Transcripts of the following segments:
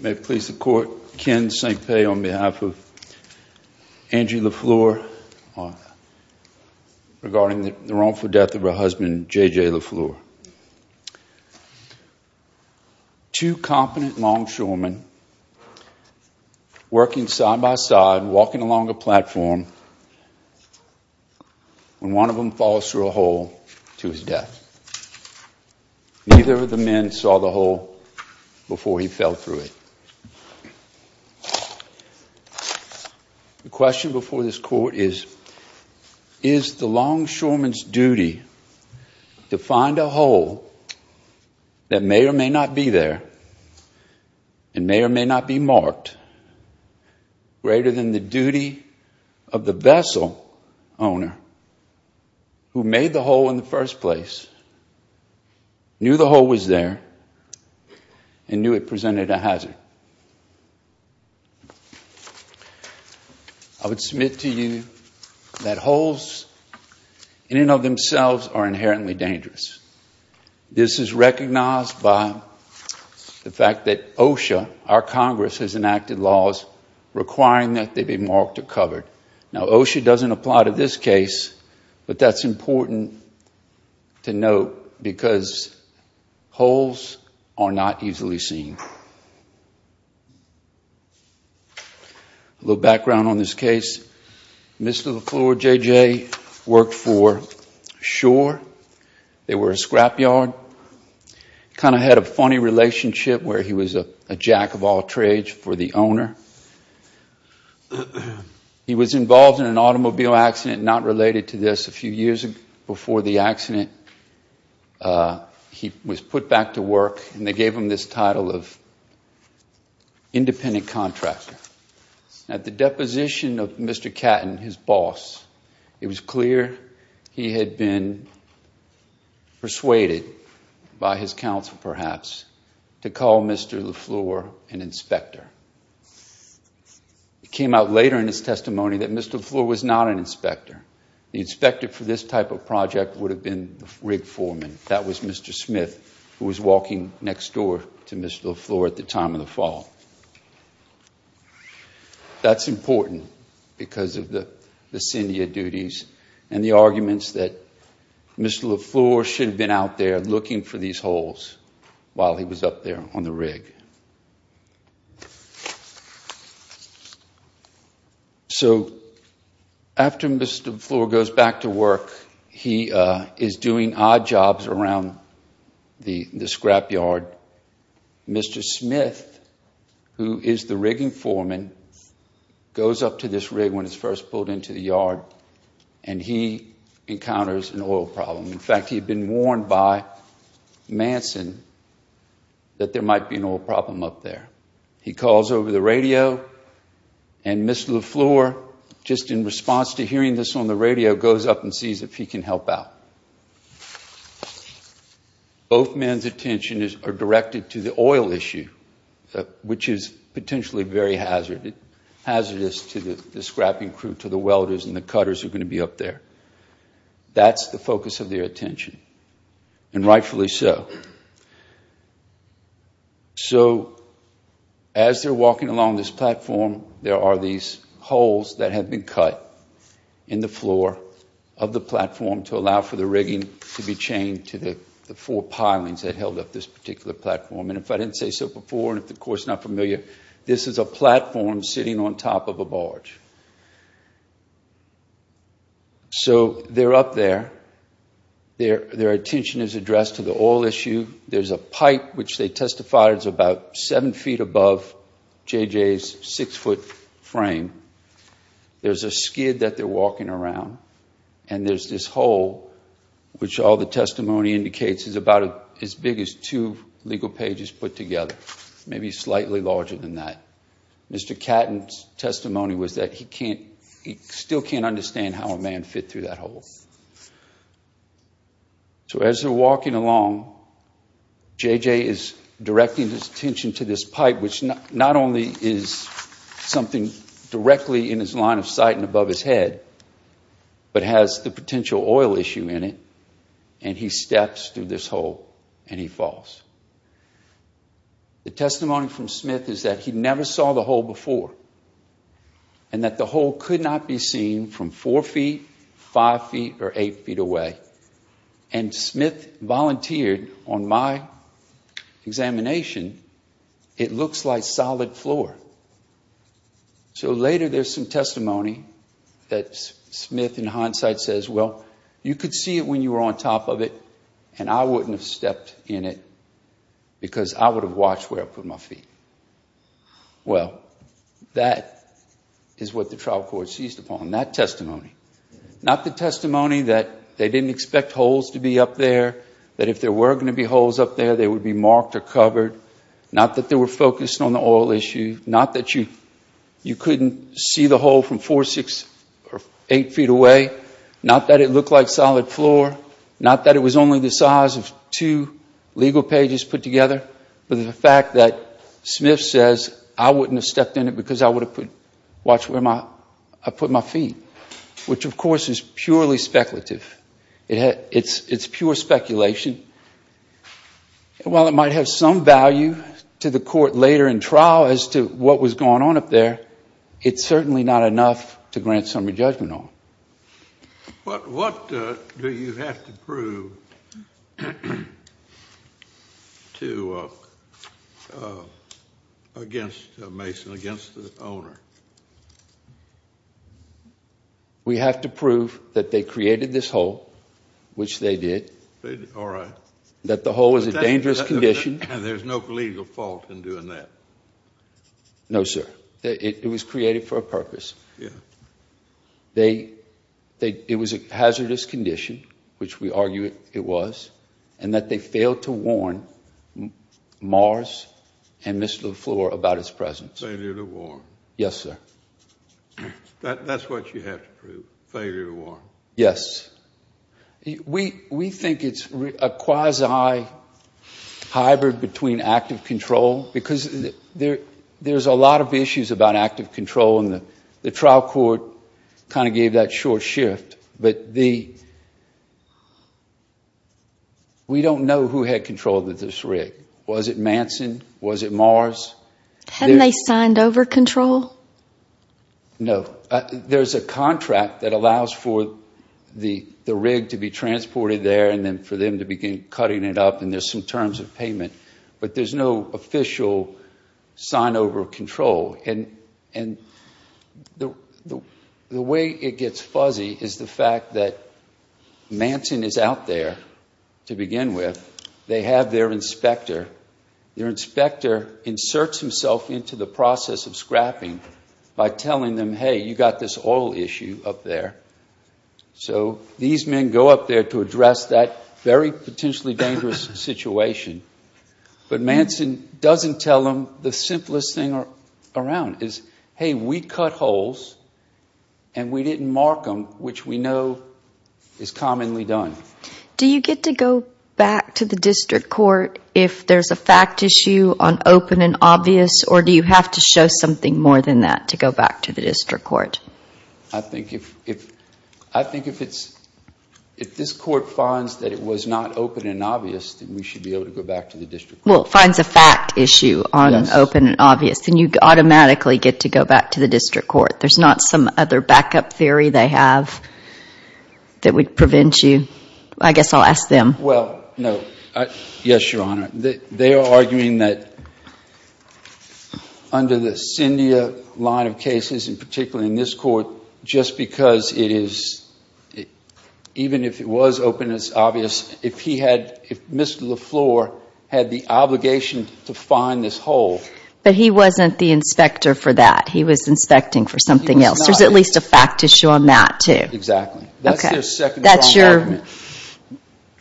May it please the Court, Ken St. Pei on behalf of Angie LaFleur regarding the wrongful death of her husband, J.J. LaFleur. Two competent longshoremen working side by side, walking along a platform, when one of the men saw the hole to his death, neither of the men saw the hole before he fell through it. The question before this Court is, is the longshoreman's duty to find a hole that may or may not be there, and may or may not be marked, greater than the duty of the vessel owner, who made the hole in the first place, knew the hole was there, and knew it presented a hazard. I would submit to you that holes in and of themselves are inherently dangerous. This is recognized by the fact that OSHA, our Congress, has enacted laws requiring that they be marked or covered. Now, OSHA doesn't apply to this case, but that's important to note because holes are not easily seen. A little background on this case, Mr. LaFleur, J.J., worked for Shore. They were a scrapyard, kind of had a funny relationship where he was a jack-of-all-trades for the owner. He was involved in an automobile accident not related to this. A few years before the accident, he was put back to work and they gave him this title of independent contractor. At the deposition of Mr. Catton, his boss, it was clear he had been persuaded by his boss. It came out later in his testimony that Mr. LaFleur was not an inspector. The inspector for this type of project would have been the rig foreman. That was Mr. Smith, who was walking next door to Mr. LaFleur at the time of the fall. That's important because of the syndia duties and the arguments that Mr. LaFleur should have been out there looking for these holes while he was up there on the rig. After Mr. LaFleur goes back to work, he is doing odd jobs around the scrapyard. Mr. Smith, who is the rigging foreman, goes up to this rig when it's first pulled into the yard and he encounters an oil problem. In fact, he had been warned by Manson that there might be an oil problem up there. He calls over the radio and Mr. LaFleur, just in response to hearing this on the radio, goes up and sees if he can help out. Both men's attention is directed to the oil issue, which is potentially very hazardous to the scrapping crew, to the welders and the cutters who are going to be up there. That's the focus of their attention, and rightfully so. As they're walking along this platform, there are these holes that have been cut in the floor of the platform to allow for the rigging to be chained to the four pilings that held up this particular platform. If I didn't say so before, and if the course is not familiar, this is a platform sitting on top of a barge. So they're up there. Their attention is addressed to the oil issue. There's a pipe, which they testify is about seven feet above J.J.'s six-foot frame. There's a skid that they're walking around, and there's this hole, which all the testimony indicates is about as big as two legal pages put together, maybe slightly larger than that. Mr. Catton's testimony was that he still can't understand how a man fit through that hole. So as they're walking along, J.J. is directing his attention to this pipe, which not only is something directly in his line of sight and above his head, but has the potential oil issue in it, and he steps through this hole and he falls. The testimony from Smith is that he never saw the hole before, and that the hole could not be seen from four feet, five feet, or eight feet away. And Smith volunteered on my examination, it looks like solid floor. So later there's some testimony that Smith, in hindsight, says, well, you could see it when you were on top of it, and I wouldn't have stepped in it because I would have watched where I put my feet. Well, that is what the trial court seized upon, that testimony. Not the testimony that they didn't expect holes to be up there, that if there were going to be holes up there, they would be marked or covered. Not that they were focused on the oil issue. Not that you couldn't see the hole from four, six, or eight feet away. Not that it looked like solid floor. Not that it was only the size of two legal pages put together. But the fact that Smith says, I wouldn't have stepped in it because I would have watched where I put my feet, which of course is purely speculative. It's pure speculation. While it might have some value to the court later in trial as to what was going on up there. What do you have to prove against Mason, against the owner? We have to prove that they created this hole, which they did, that the hole was a dangerous condition. And there's no legal fault in doing that? No, sir. It was created for a purpose. It was a hazardous condition, which we argue it was. And that they failed to warn Mars and Mr. LeFleur about its presence. Failure to warn. Yes, sir. That's what you have to prove, failure to warn. Yes. We think it's a quasi-hybrid between active control, because there's a lot of issues about active control. And the trial court kind of gave that short shift. But we don't know who had control of this rig. Was it Manson? Was it Mars? Hadn't they signed over control? No. There's a contract that allows for the rig to be transported there, and then for them to begin cutting it up, and there's some terms of payment. But there's no official sign over control. And the way it gets fuzzy is the fact that Manson is out there to begin with. They have their inspector. Their inspector inserts himself into the process of scrapping by telling them, hey, you got this oil issue up there. So these men go up there to address that very potentially dangerous situation, but Manson doesn't tell them the simplest thing around is, hey, we cut holes and we didn't mark them, which we know is commonly done. Do you get to go back to the district court if there's a fact issue on open and obvious, or do you have to show something more than that to go back to the district court? I think if this court finds that it was not open and obvious, then we should be able to go back to the district court. Well, it finds a fact issue on open and obvious, then you automatically get to go back to the district court. There's not some other backup theory they have that would prevent you. I guess I'll ask them. Well, no. Yes, Your Honor. They are arguing that under the Cyndia line of cases, and particularly in this court, just because it is, even if it was open and obvious, if he had, if Mr. LaFleur had the obligation to find this hole. But he wasn't the inspector for that. He was inspecting for something else. There's at least a fact issue on that, too. Exactly. That's their second argument.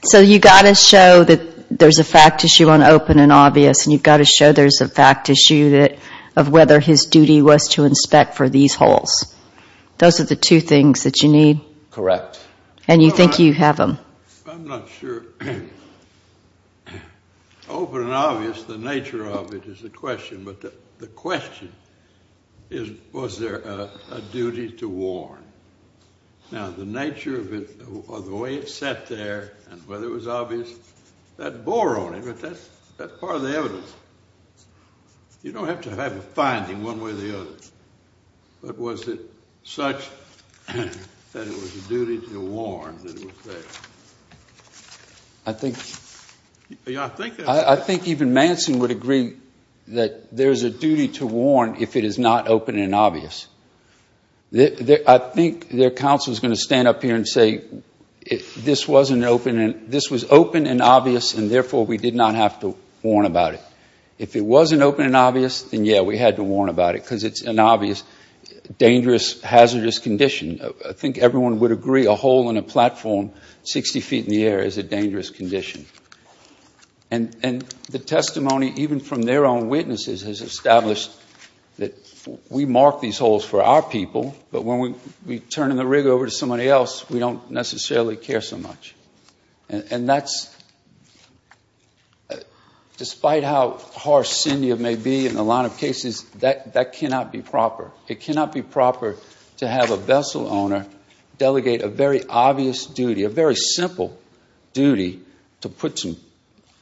So, you've got to show that there's a fact issue on open and obvious, and you've got to show there's a fact issue of whether his duty was to inspect for these holes. Those are the two things that you need. Correct. And you think you have them. I'm not sure. Open and obvious, the nature of it is the question, but the question is, was there a duty to warn? Now, the nature of it, or the way it sat there, and whether it was obvious, that bore on him. But that's part of the evidence. You don't have to have a finding one way or the other. But was it such that it was a duty to warn that it was there? I think even Manson would agree that there's a duty to warn if it is not open and obvious. I think their counsel is going to stand up here and say, this was open and obvious, and therefore, we did not have to warn about it. If it wasn't open and obvious, then yeah, we had to warn about it, because it's an obvious, dangerous, hazardous condition. I think everyone would agree a hole in a platform 60 feet in the air is a dangerous condition. And the testimony, even from their own witnesses, has established that we mark these holes for our people, but when we turn the rig over to somebody else, we don't necessarily care so much. And that's, despite how harsh SINIA may be in a lot of cases, that cannot be proper. It cannot be proper to have a vessel owner delegate a very obvious duty, a very simple duty, to put some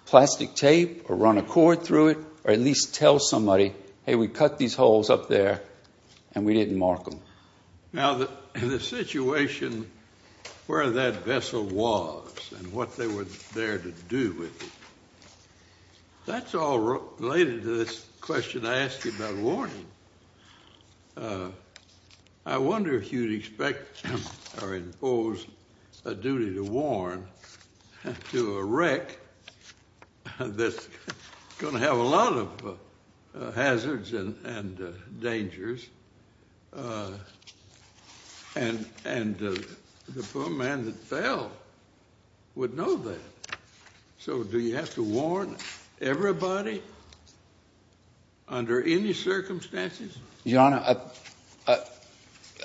plastic tape or run a cord through it or at least tell somebody, hey, we cut these holes up there and we didn't mark them. Now, the situation where that vessel was and what they were there to do with it, that's all related to this question I asked you about warning. I wonder if you'd expect or impose a duty to warn to a wreck that's going to have a lot of hazards and dangers, and the poor man that fell would know that. So do you have to warn everybody under any circumstances? Your Honor,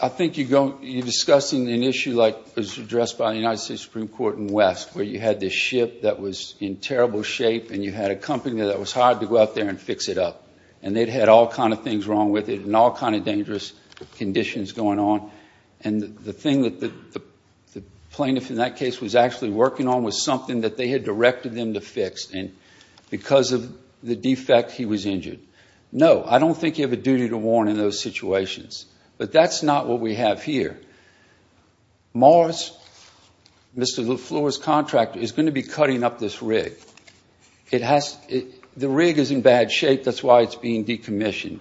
I think you're discussing an issue like was addressed by the United States Supreme Court in West, where you had this ship that was in terrible shape and you had a company that was hired to go out there and fix it up. And they'd had all kind of things wrong with it and all kind of dangerous conditions going on. And the thing that the plaintiff in that case was actually working on was something that they had directed them to fix. And because of the defect, he was injured. No, I don't think you have a duty to warn in those situations. But that's not what we have here. Morris, Mr. Lefleur's contractor, is going to be cutting up this rig. The rig is in bad shape. That's why it's being decommissioned.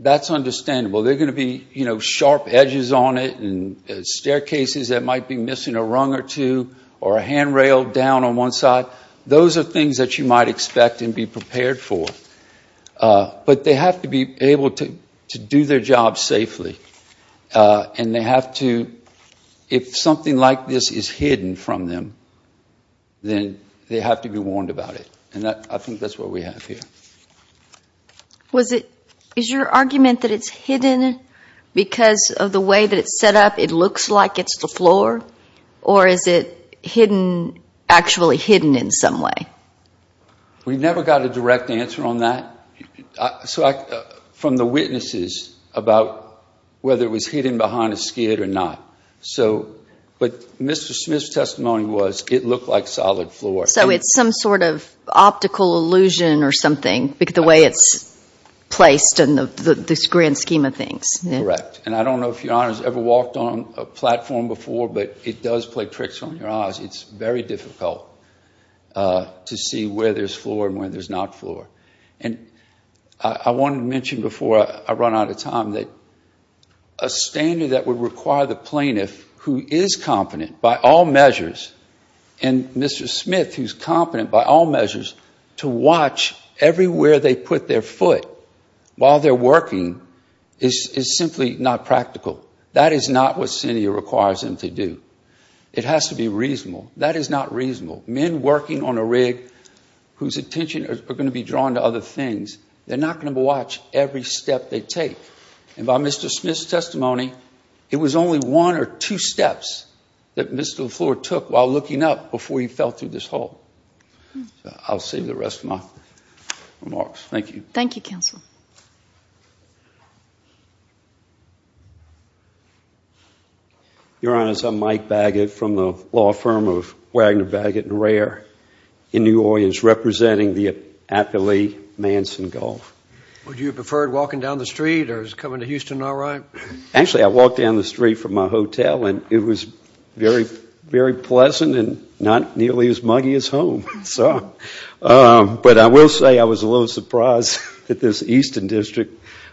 That's understandable. There are going to be sharp edges on it and staircases that might be missing a rung or two, or a handrail down on one side. Those are things that you might expect and be prepared for. But they have to be able to do their job safely. And they have to, if something like this is hidden from them, then they have to be warned about it. And I think that's what we have here. Is your argument that it's hidden because of the way that it's set up? It looks like it's the floor? Or is it hidden, actually hidden in some way? We never got a direct answer on that from the witnesses about whether it was hidden behind a skid or not. But Mr. Smith's testimony was it looked like solid floor. So it's some sort of optical illusion or something, the way it's placed in the grand scheme of things. Correct. And I don't know if your Honor has ever walked on a platform before, but it does play tricks on your eyes. It's very difficult to see where there's floor and where there's not floor. And I wanted to mention before I run out of time that a standard that would require the plaintiff, who is competent by all measures, and Mr. Smith, who's competent by all measures, to watch everywhere they put their foot while they're working is simply not practical. That is not what CINIA requires them to do. It has to be reasonable. That is not reasonable. Men working on a rig whose attention are going to be drawn to other things, they're not going to watch every step they take. And by Mr. Smith's testimony, it was only one or two steps that Mr. LaFleur took while looking up before he fell through this hole. I'll save the rest of my remarks. Thank you. Thank you, Counsel. Your Honors, I'm Mike Baggett from the law firm of Wagner, Baggett & Rare in New Orleans, representing the Atlalee Manson Gulf. Would you have preferred walking down the street, or is coming to Houston all right? Actually, I walked down the street from my hotel, and it was very pleasant and not nearly as muggy as home. But I will say I was a little surprised that this Eastern District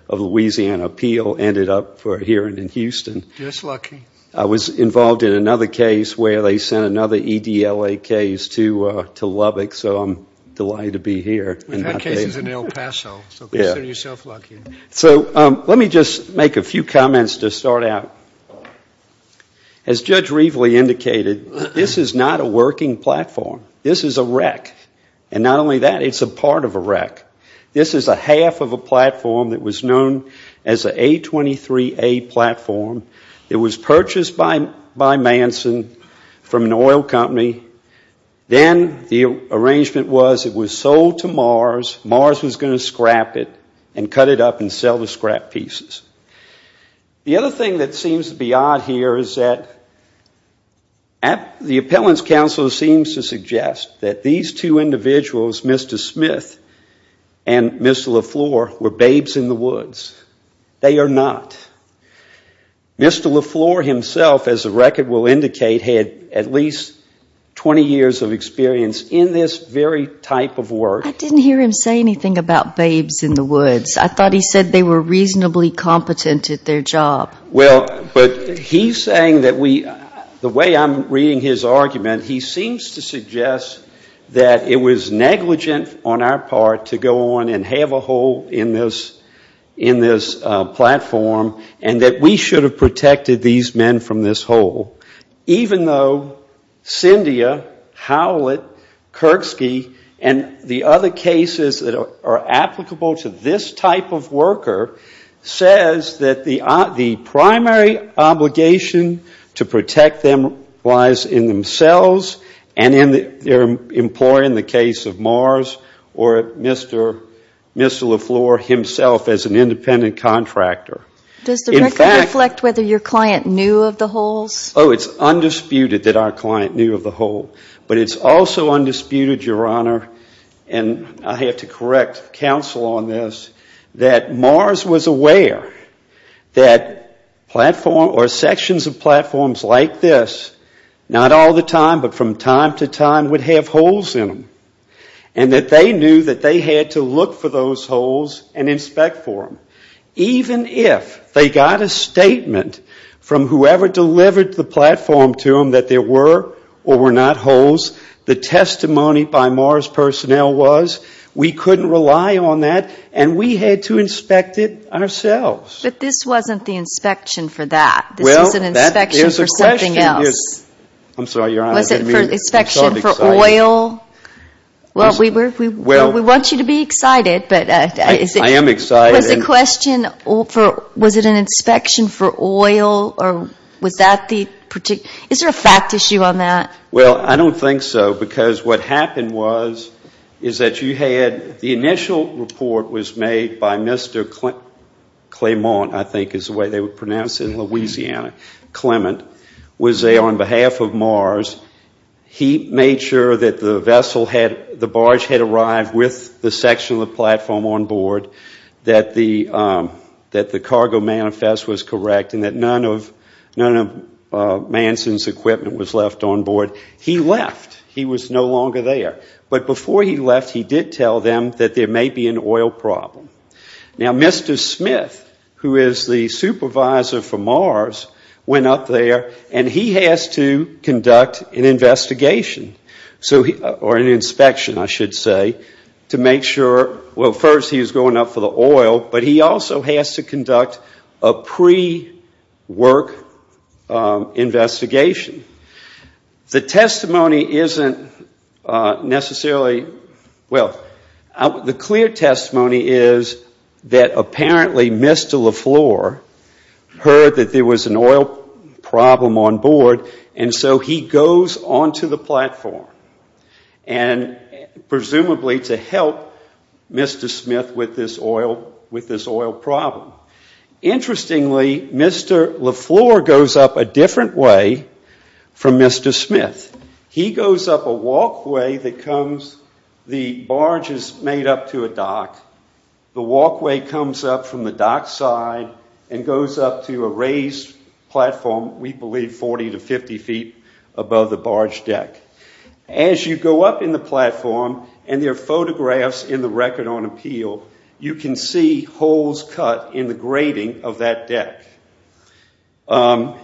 of Louisiana appeal ended up here in Houston. Just lucky. I was involved in another case where they sent another EDLA case to Lubbock, so I'm delighted to be here. We've had cases in El Paso, so consider yourself lucky. So let me just make a few comments to start out. As Judge Reveley indicated, this is not a working platform. This is a wreck, and not only that, it's a part of a wreck. This is a half of a platform that was known as an A23A platform. It was purchased by Manson from an oil company. Then the arrangement was it was sold to Mars. Mars was going to scrap it and cut it up and sell the scrap pieces. The other thing that seems to be odd here is that the appellant's counsel seems to suggest that these two individuals, Mr. Smith and Mr. LaFleur, were babes in the woods. They are not. Mr. LaFleur himself, as the record will indicate, had at least 20 years of experience in this very type of work. I didn't hear him say anything about babes in the woods. I thought he said they were reasonably competent at their job. Well, but he's saying that we, the way I'm reading his argument, he seems to suggest that it was negligent on our part to go on and have a hole in this platform and that we should have protected these men from this hole, even though Cyndia, Howlett, Kirksky, and the other cases that are applicable to this type of worker says that the primary obligation to protect them lies in themselves and their employer in the case of Mars or Mr. LaFleur himself as an independent contractor. Does the record reflect whether your client knew of the holes? Oh, it's undisputed that our client knew of the hole. But it's also undisputed, Your Honor, and I have to correct counsel on this, that Mars was aware that sections of platforms like this, not all the time, but from time to time would have holes in them and that they knew that they had to look for those holes and inspect for them. Even if they got a statement from whoever delivered the platform to them that there were or were not holes, the testimony by Mars personnel was we couldn't rely on that and we had to inspect it ourselves. But this wasn't the inspection for that. This was an inspection for something else. I'm sorry, Your Honor. Was it an inspection for oil? Well, we want you to be excited. I am excited. Was it an inspection for oil? Is there a fact issue on that? Well, I don't think so. Because what happened was is that you had the initial report was made by Mr. Clement, I think is the way they would pronounce it in Louisiana, Clement, was on behalf of Mars. He made sure that the barge had arrived with the section of the platform on board, that the cargo manifest was correct, and that none of Manson's equipment was left on board. He left. He was no longer there. But before he left, he did tell them that there may be an oil problem. Now, Mr. Smith, who is the supervisor for Mars, went up there and he has to conduct an investigation or an inspection, I should say, to make sure, well, first he's going up for the oil, but he also has to conduct a pre-work investigation. The testimony isn't necessarily, well, the clear testimony is that apparently Mr. LaFleur heard that there was an oil problem on board, and so he goes on to the platform, and presumably to help Mr. Smith with this oil problem. Interestingly, Mr. LaFleur goes up a different way from Mr. Smith. He goes up a walkway that comes, the barge is made up to a dock. The walkway comes up from the dock side and goes up to a raised platform, we believe 40 to 50 feet above the barge deck. As you go up in the platform, and there are photographs in the Record on Appeal, you can see holes cut in the grating of that deck.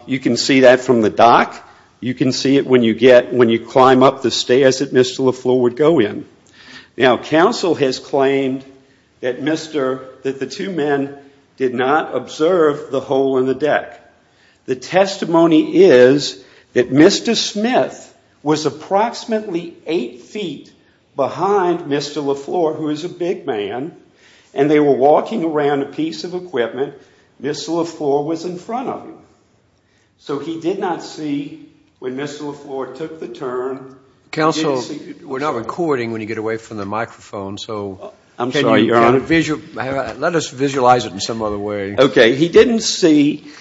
You can see that from the dock. You can see it when you climb up the stairs that Mr. LaFleur would go in. Now, counsel has claimed that the two men did not observe the hole in the deck. The testimony is that Mr. Smith was approximately eight feet behind Mr. LaFleur, who is a big man, and they were walking around a piece of equipment. Mr. LaFleur was in front of him. So he did not see when Mr. LaFleur took the turn. Counsel, we're not recording when you get away from the microphone. I'm sorry, Your Honor. Let us visualize it in some other way. Okay. He didn't see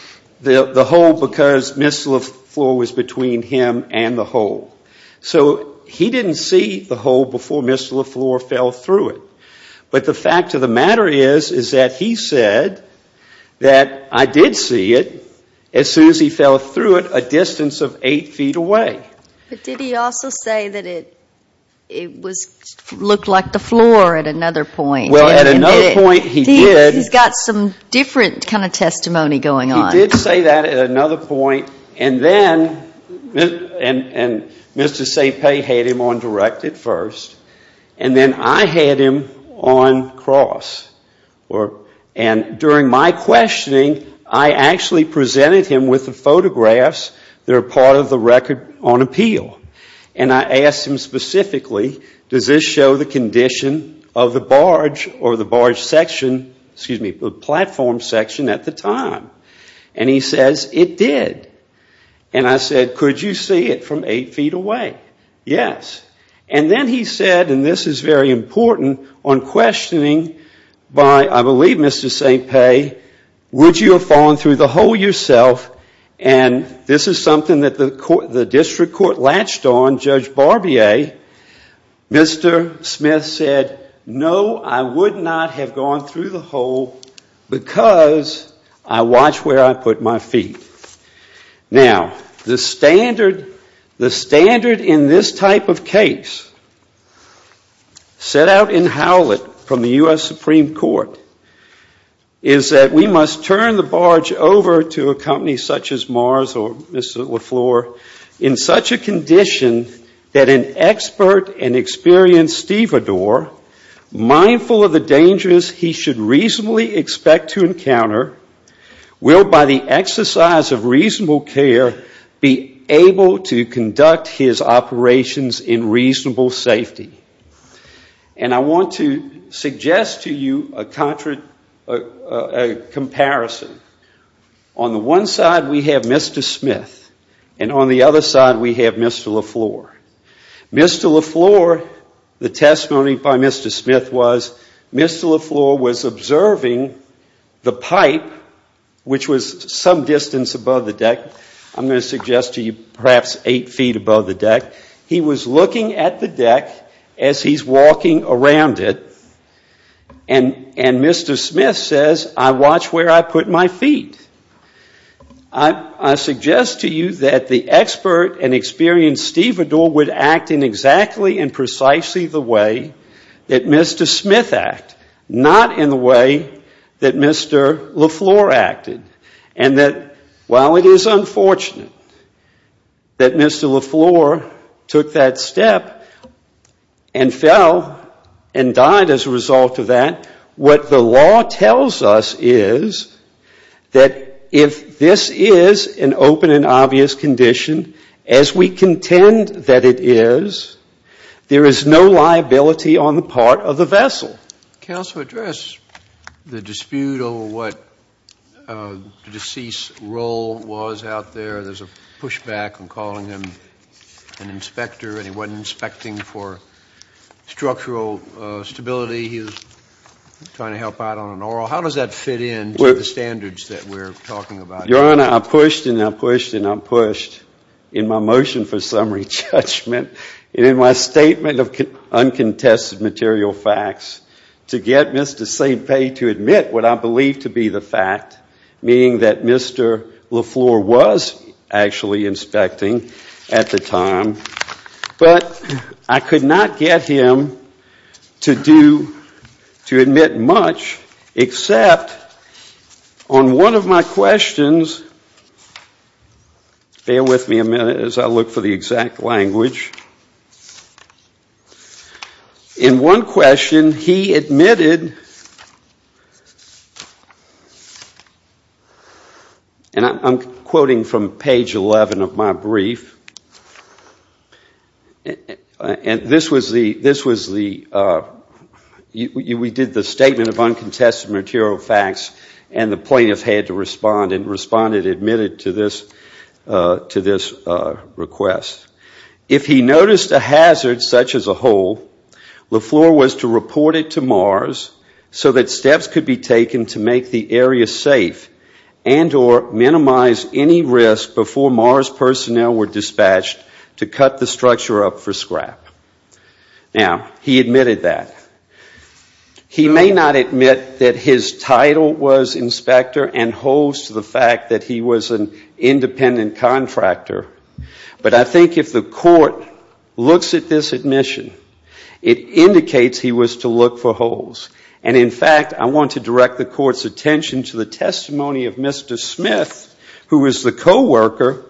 the hole because Mr. LaFleur was between him and the hole. So he didn't see the hole before Mr. LaFleur fell through it. But the fact of the matter is, is that he said that, I did see it as soon as he fell through it a distance of eight feet away. But did he also say that it looked like the floor at another point? Well, at another point he did. He's got some different kind of testimony going on. He did say that at another point, and then Mr. St. Pei had him on direct at first, and then I had him on cross. And during my questioning, I actually presented him with the photographs that are part of the record on appeal. And I asked him specifically, does this show the condition of the barge or the barge section, excuse me, platform section at the time? And he says it did. And I said, could you see it from eight feet away? Yes. And then he said, and this is very important, on questioning by, I believe, Mr. St. Pei, would you have fallen through the hole yourself? And this is something that the district court latched on, Judge Barbier. Mr. Smith said, no, I would not have gone through the hole because I watch where I put my feet. Now, the standard in this type of case set out in Howlett from the U.S. Supreme Court is that we must turn the barge over to a company such as Mars or Mr. LaFleur in such a condition that an expert and experienced stevedore, mindful of the dangers he should reasonably expect to encounter, will by the exercise of reasonable care be able to conduct his operations in reasonable safety. And I want to suggest to you a comparison. On the one side we have Mr. Smith, and on the other side we have Mr. LaFleur. Mr. LaFleur, the testimony by Mr. Smith was Mr. LaFleur was observing the pipe, which was some distance above the deck. I'm going to suggest to you perhaps eight feet above the deck. He was looking at the deck as he's walking around it, and Mr. Smith says, I watch where I put my feet. I suggest to you that the expert and experienced stevedore would act in exactly and precisely the way that Mr. Smith acted, not in the way that Mr. LaFleur acted, and that while it is unfortunate that Mr. LaFleur took that step and fell and died as a result of that, what the law tells us is that if this is an open and obvious condition, as we contend that it is, there is no liability on the part of the vessel. Counsel, address the dispute over what the deceased's role was out there. There's a pushback in calling him an inspector, and he wasn't inspecting for structural stability. He was trying to help out on an oral. How does that fit into the standards that we're talking about? Your Honor, I pushed and I pushed and I pushed in my motion for summary judgment and in my statement of uncontested material facts to get Mr. St. Pei to admit what I believe to be the fact, meaning that Mr. LaFleur was actually inspecting at the time, but I could not get him to do, to admit much except on one of my questions. Bear with me a minute as I look for the exact language. In one question, he admitted, and I'm quoting from page 11 of my brief, and this was the, we did the statement of uncontested material facts and the plaintiff had to respond and responded, admitted to this request. If he noticed a hazard such as a hole, LaFleur was to report it to MARS so that steps could be taken to make the area safe and or minimize any risk before MARS personnel were dispatched to cut the structure up for scrap. Now, he admitted that. He may not admit that his title was inspector and holds to the fact that he was an independent contractor, but I think if the court looks at this admission, it indicates he was to look for holes, and in fact, I want to direct the court's attention to the testimony of Mr. Smith, who was the co-worker,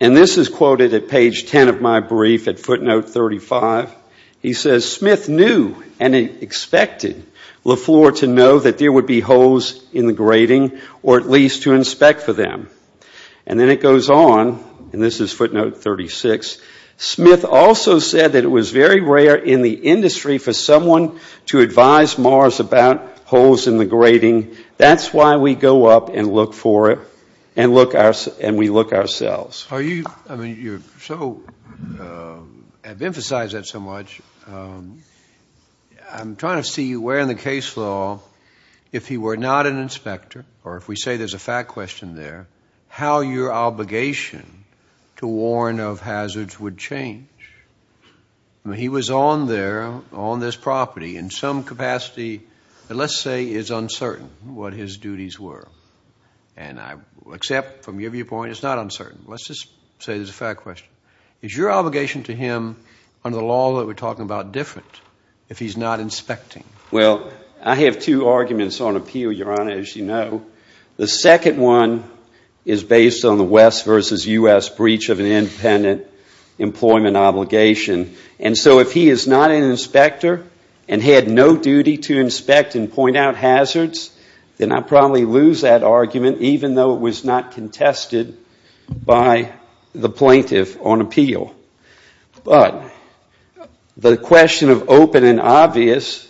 and this is quoted at page 10 of my brief at footnote 35. He says, Smith knew and expected LaFleur to know that there would be holes in the grating or at least to inspect for them. And then it goes on, and this is footnote 36, Smith also said that it was very rare in the industry for someone to advise MARS about holes in the grating. That's why we go up and look for it and we look ourselves. You have emphasized that so much. I'm trying to see where in the case law, if he were not an inspector, or if we say there's a fact question there, how your obligation to warn of hazards would change. He was on there on this property in some capacity that let's say is uncertain what his duties were, and I accept from your viewpoint it's not uncertain. Let's just say there's a fact question. Is your obligation to him under the law that we're talking about different if he's not inspecting? Well, I have two arguments on appeal, Your Honor, as you know. The second one is based on the West versus U.S. breach of an independent employment obligation, and so if he is not an inspector and had no duty to inspect and point out hazards, then I'd probably lose that argument even though it was not contested by the plaintiff on appeal. But the question of open and obvious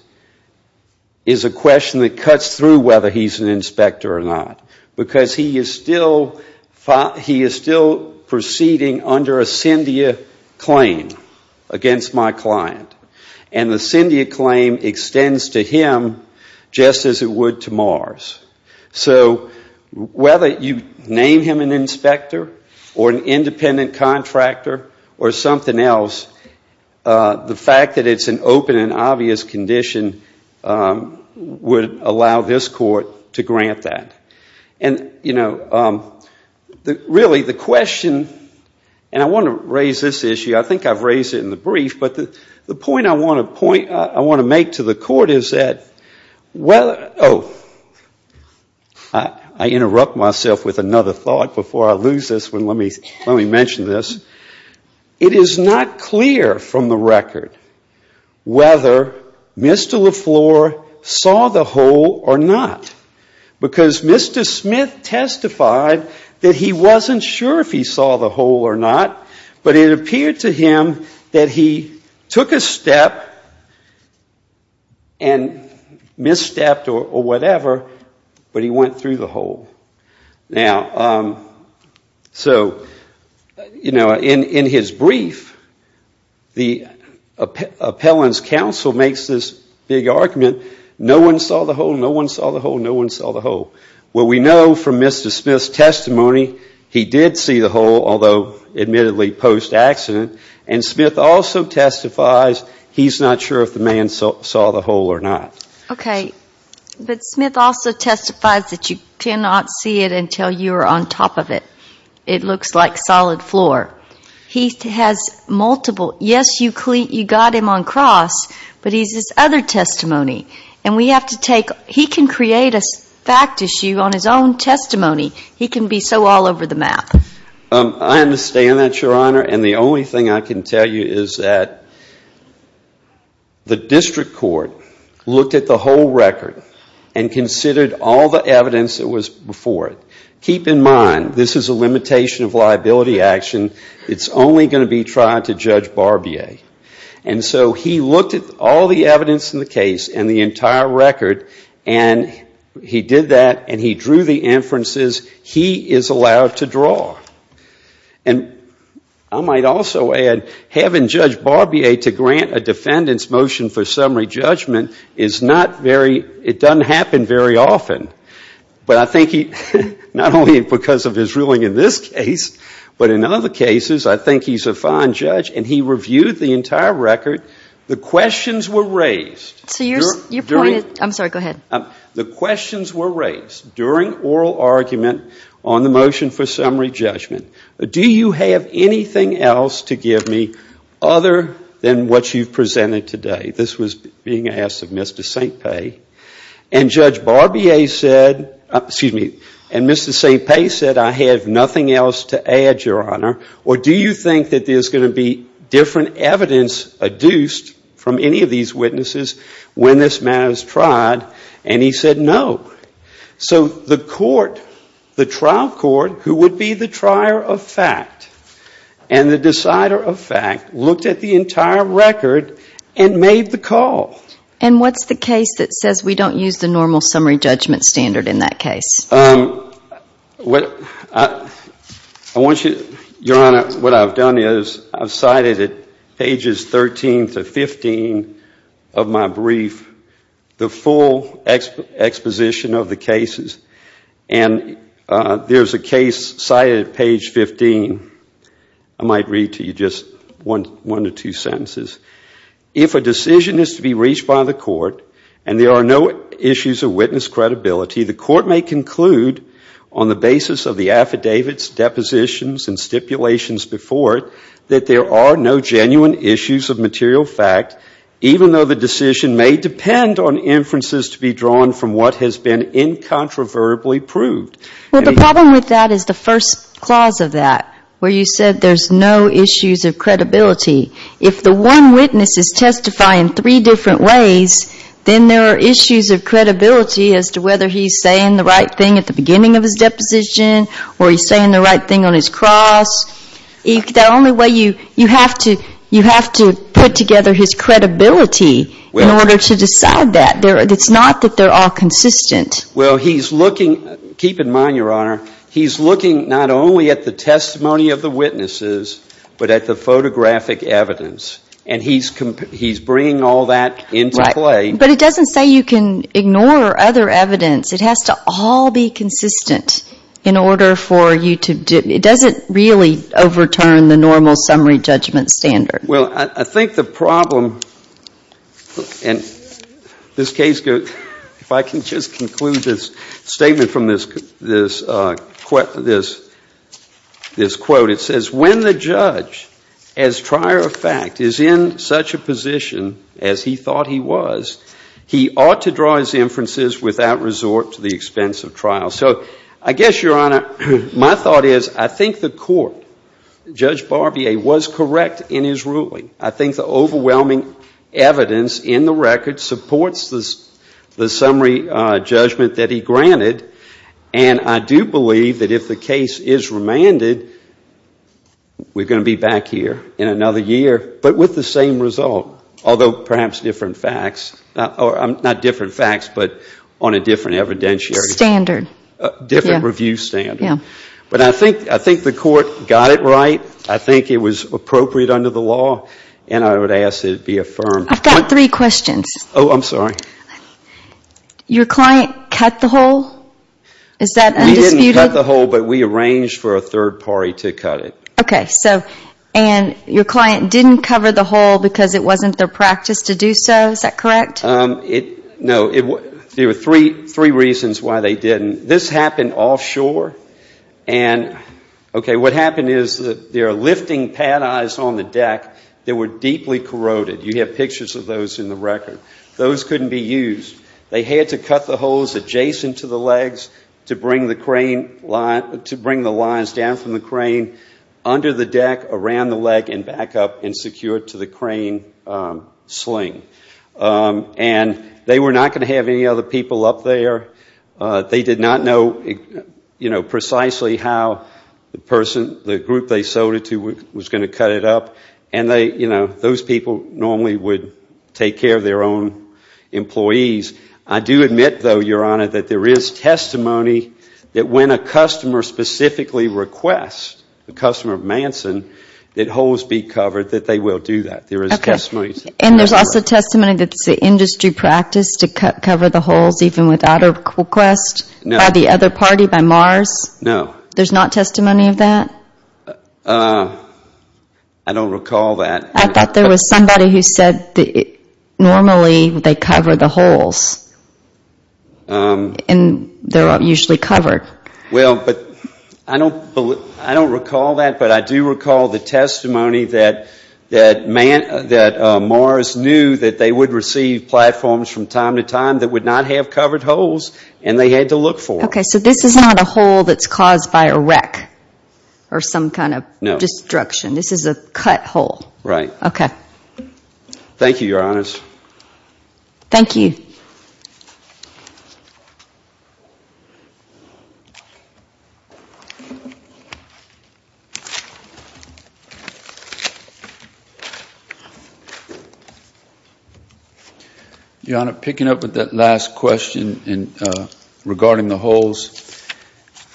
is a question that cuts through whether he's an inspector or not, because he is still proceeding under a Cyndia claim against my client, and the Cyndia claim extends to him just as it would to Mars. So whether you name him an inspector or an independent contractor or something else, the fact that it's an open and obvious condition would allow this court to grant that. And, you know, really the question, and I want to raise this issue. I think I've raised it in the brief, but the point I want to make to the court is that whether, oh, I interrupted myself with another thought before I lose this one. Let me mention this. It is not clear from the record whether Mr. LaFleur saw the hole or not, because Mr. Smith testified that he wasn't sure if he saw the hole or not, but it appeared to him that he took a step and misstepped or whatever, but he went through the hole. Now, so, you know, in his brief, the appellant's counsel makes this big argument, no one saw the hole, no one saw the hole, no one saw the hole. Well, we know from Mr. Smith's testimony he did see the hole, although admittedly post-accident, and Smith also testifies he's not sure if the man saw the hole or not. Okay. But Smith also testifies that you cannot see it until you are on top of it. It looks like solid floor. He has multiple, yes, you got him on cross, but he's his other testimony, and we have to take, he can create a fact issue on his own testimony. He can be so all over the map. I understand that, Your Honor, and the only thing I can tell you is that the district court looked at the hole record and considered all the evidence that was before it. Keep in mind, this is a limitation of liability action. It's only going to be tried to Judge Barbier. And so he looked at all the evidence in the case and the entire record, and he did that, and he drew the inferences he is allowed to draw. And I might also add having Judge Barbier to grant a defendant's motion for summary judgment is not very, it doesn't happen very often, but I think he, not only because of his ruling in this case, but in other cases, I think he's a fine judge, and he reviewed the entire record. The questions were raised. So you're pointing, I'm sorry, go ahead. The questions were raised during oral argument on the motion for summary judgment. Do you have anything else to give me other than what you've presented today? This was being asked of Mr. St. Pei. And Judge Barbier said, excuse me, and Mr. St. Pei said, I have nothing else to add, Your Honor. Or do you think that there's going to be different evidence adduced from any of these witnesses when this matter is tried? And he said no. So the court, the trial court, who would be the trier of fact and the decider of fact, looked at the entire record and made the call. And what's the case that says we don't use the normal summary judgment standard in that case? I want you, Your Honor, what I've done is I've cited at pages 13 to 15 of my brief the full exposition of the cases. And there's a case cited at page 15. I might read to you just one to two sentences. If a decision is to be reached by the court and there are no issues of witness credibility, the court may conclude on the basis of the affidavits, depositions, and stipulations before it that there are no genuine issues of material fact, even though the decision may depend on inferences to be drawn from what has been incontroverbably proved. Well, the problem with that is the first clause of that, where you said there's no issues of credibility. If the one witness is testifying three different ways, then there are issues of credibility as to whether he's saying the right thing at the beginning of his deposition or he's saying the right thing on his cross. The only way you have to put together his credibility in order to decide that. It's not that they're all consistent. Well, he's looking, keep in mind, Your Honor, he's looking not only at the testimony of the witnesses but at the photographic evidence, and he's bringing all that into play. Right. But it doesn't say you can ignore other evidence. It has to all be consistent in order for you to do it. It doesn't really overturn the normal summary judgment standard. Well, I think the problem in this case, if I can just conclude this statement from this quote, it says, when the judge, as trier of fact, is in such a position as he thought he was, he ought to draw his inferences without resort to the expense of trial. So I guess, Your Honor, my thought is I think the court, Judge Barbier, was correct in his ruling. I think the overwhelming evidence in the record supports the summary judgment that he granted, and I do believe that if the case is remanded, we're going to be back here in another year, but with the same result, although perhaps different facts. Not different facts, but on a different evidentiary. Standard. Different review standard. Yeah. But I think the court got it right. I think it was appropriate under the law, and I would ask that it be affirmed. I've got three questions. Oh, I'm sorry. Your client cut the hole? Is that undisputed? We didn't cut the hole, but we arranged for a third party to cut it. Okay. And your client didn't cover the hole because it wasn't their practice to do so? Is that correct? No. There were three reasons why they didn't. This happened offshore, and, okay, what happened is that they're lifting pad eyes on the deck that were deeply corroded. You have pictures of those in the record. Those couldn't be used. They had to cut the holes adjacent to the legs to bring the lines down from the crane under the deck, around the leg, and back up and secure it to the crane sling. And they were not going to have any other people up there. They did not know precisely how the group they sold it to was going to cut it up, and those people normally would take care of their own employees. I do admit, though, Your Honor, that there is testimony that when a customer specifically requests a customer of Manson that holes be covered, that they will do that. There is testimony to that. Okay. And there's also testimony that it's the industry practice to cover the holes even without a request by the other party, by MARS? No. There's not testimony of that? I don't recall that. I thought there was somebody who said normally they cover the holes, and they're usually covered. Well, I don't recall that, but I do recall the testimony that MARS knew that they would receive platforms from time to time that would not have covered holes, and they had to look for them. Okay, so this is not a hole that's caused by a wreck or some kind of destruction. No. This is a cut hole. Right. Okay. Thank you, Your Honors. Thank you. Thank you. Your Honor, picking up with that last question regarding the holes,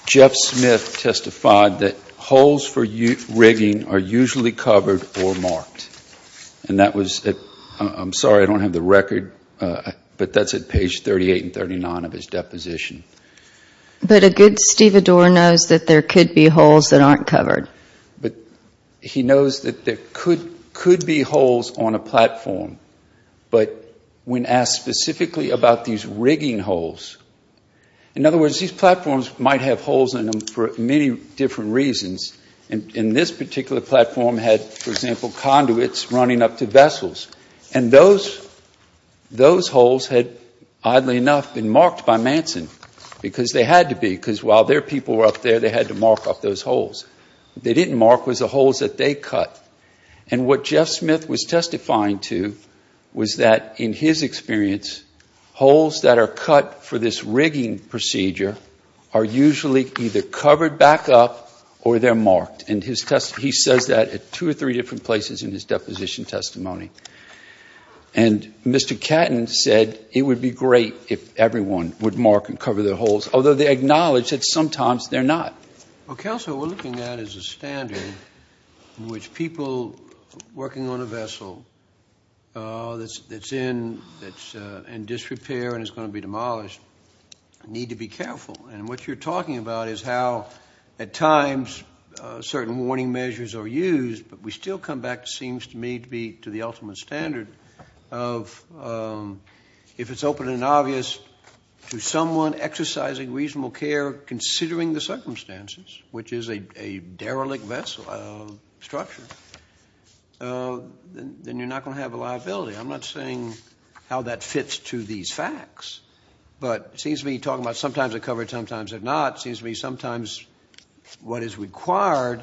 Jeff Smith testified that holes for rigging are usually covered or marked. And that was at, I'm sorry, I don't have the record, but that's at page 38 and 39 of his deposition. But a good stevedore knows that there could be holes that aren't covered. But he knows that there could be holes on a platform, but when asked specifically about these rigging holes, in other words, these platforms might have holes in them for many different reasons. And this particular platform had, for example, conduits running up to vessels. And those holes had, oddly enough, been marked by Manson, because they had to be, because while their people were up there, they had to mark up those holes. What they didn't mark was the holes that they cut. And what Jeff Smith was testifying to was that, in his experience, holes that are cut for this rigging procedure are usually either covered back up or they're marked. And he says that at two or three different places in his deposition testimony. And Mr. Catton said it would be great if everyone would mark and cover their holes, although they acknowledge that sometimes they're not. Well, counsel, what we're looking at is a standard in which people working on a vessel that's in disrepair and is going to be demolished need to be careful. And what you're talking about is how, at times, certain warning measures are used, but we still come back, it seems to me, to the ultimate standard of, if it's open and obvious, to someone exercising reasonable care considering the circumstances, which is a derelict vessel structure, then you're not going to have a liability. I'm not saying how that fits to these facts, but it seems to me you're talking about sometimes they're covered, sometimes they're not. It seems to me sometimes what is required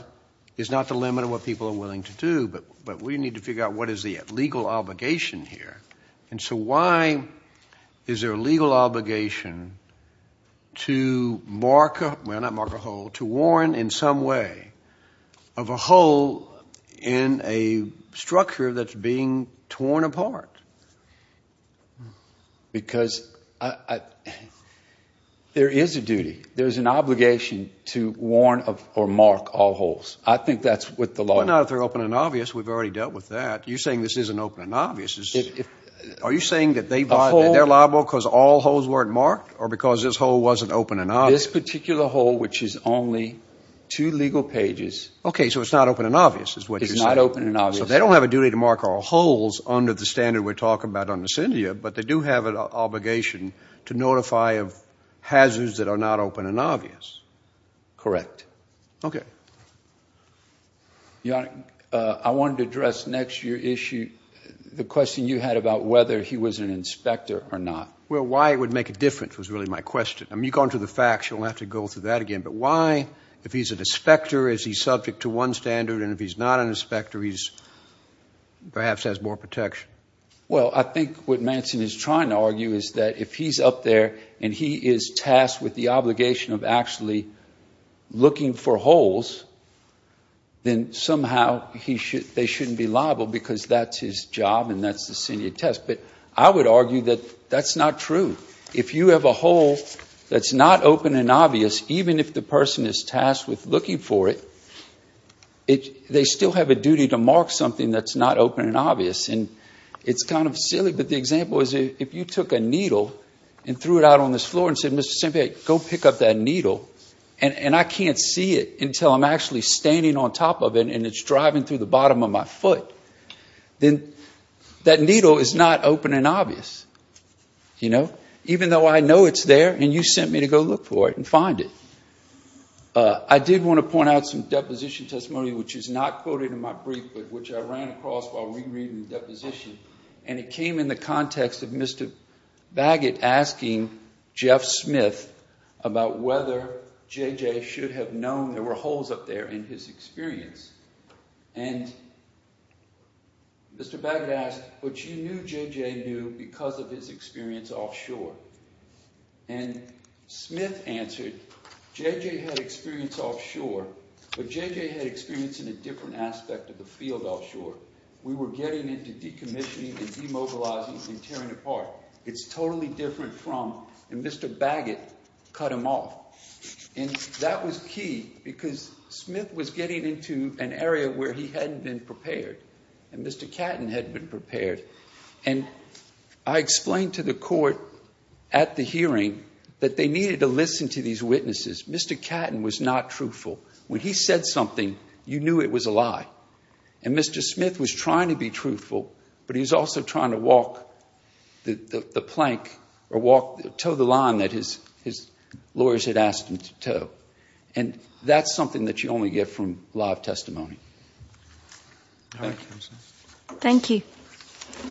is not the limit of what people are willing to do, but we need to figure out what is the legal obligation here. And so why is there a legal obligation to mark, well, not mark a hole, to warn in some way of a hole in a structure that's being torn apart? Because there is a duty, there's an obligation to warn or mark all holes. I think that's what the law is. You're saying this isn't open and obvious. Are you saying that they're liable because all holes weren't marked or because this hole wasn't open and obvious? This particular hole, which is only two legal pages. Okay, so it's not open and obvious is what you're saying. It's not open and obvious. So they don't have a duty to mark all holes under the standard we're talking about under CINDIA, but they do have an obligation to notify of hazards that are not open and obvious. Correct. Okay. I wanted to address next to your issue the question you had about whether he was an inspector or not. Well, why it would make a difference was really my question. I mean, you've gone through the facts. You don't have to go through that again. But why, if he's an inspector, is he subject to one standard? And if he's not an inspector, he perhaps has more protection. Well, I think what Manson is trying to argue is that if he's up there and he is tasked with the obligation of actually looking for holes, then somehow they shouldn't be liable because that's his job and that's the CINDIA test. But I would argue that that's not true. If you have a hole that's not open and obvious, even if the person is tasked with looking for it, they still have a duty to mark something that's not open and obvious. And it's kind of silly, but the example is if you took a needle and threw it out on this floor and said, Mr. Sempe, go pick up that needle, and I can't see it until I'm actually standing on top of it and it's driving through the bottom of my foot, then that needle is not open and obvious, even though I know it's there and you sent me to go look for it and find it. I did want to point out some deposition testimony, which is not quoted in my brief, but which I ran across while rereading the deposition, and it came in the context of Mr. Baggett asking Jeff Smith about whether J.J. should have known there were holes up there in his experience. And Mr. Baggett asked, but you knew J.J. knew because of his experience offshore. And Smith answered, J.J. had experience offshore, but J.J. had experience in a different aspect of the field offshore. We were getting into decommissioning and demobilizing and tearing apart. It's totally different from, and Mr. Baggett cut him off. And that was key because Smith was getting into an area where he hadn't been prepared and Mr. Catton had been prepared. And I explained to the court at the hearing that they needed to listen to these witnesses. Mr. Catton was not truthful. When he said something, you knew it was a lie. And Mr. Smith was trying to be truthful, but he was also trying to walk the plank or toe the line that his lawyers had asked him to toe. And that's something that you only get from live testimony. Thank you.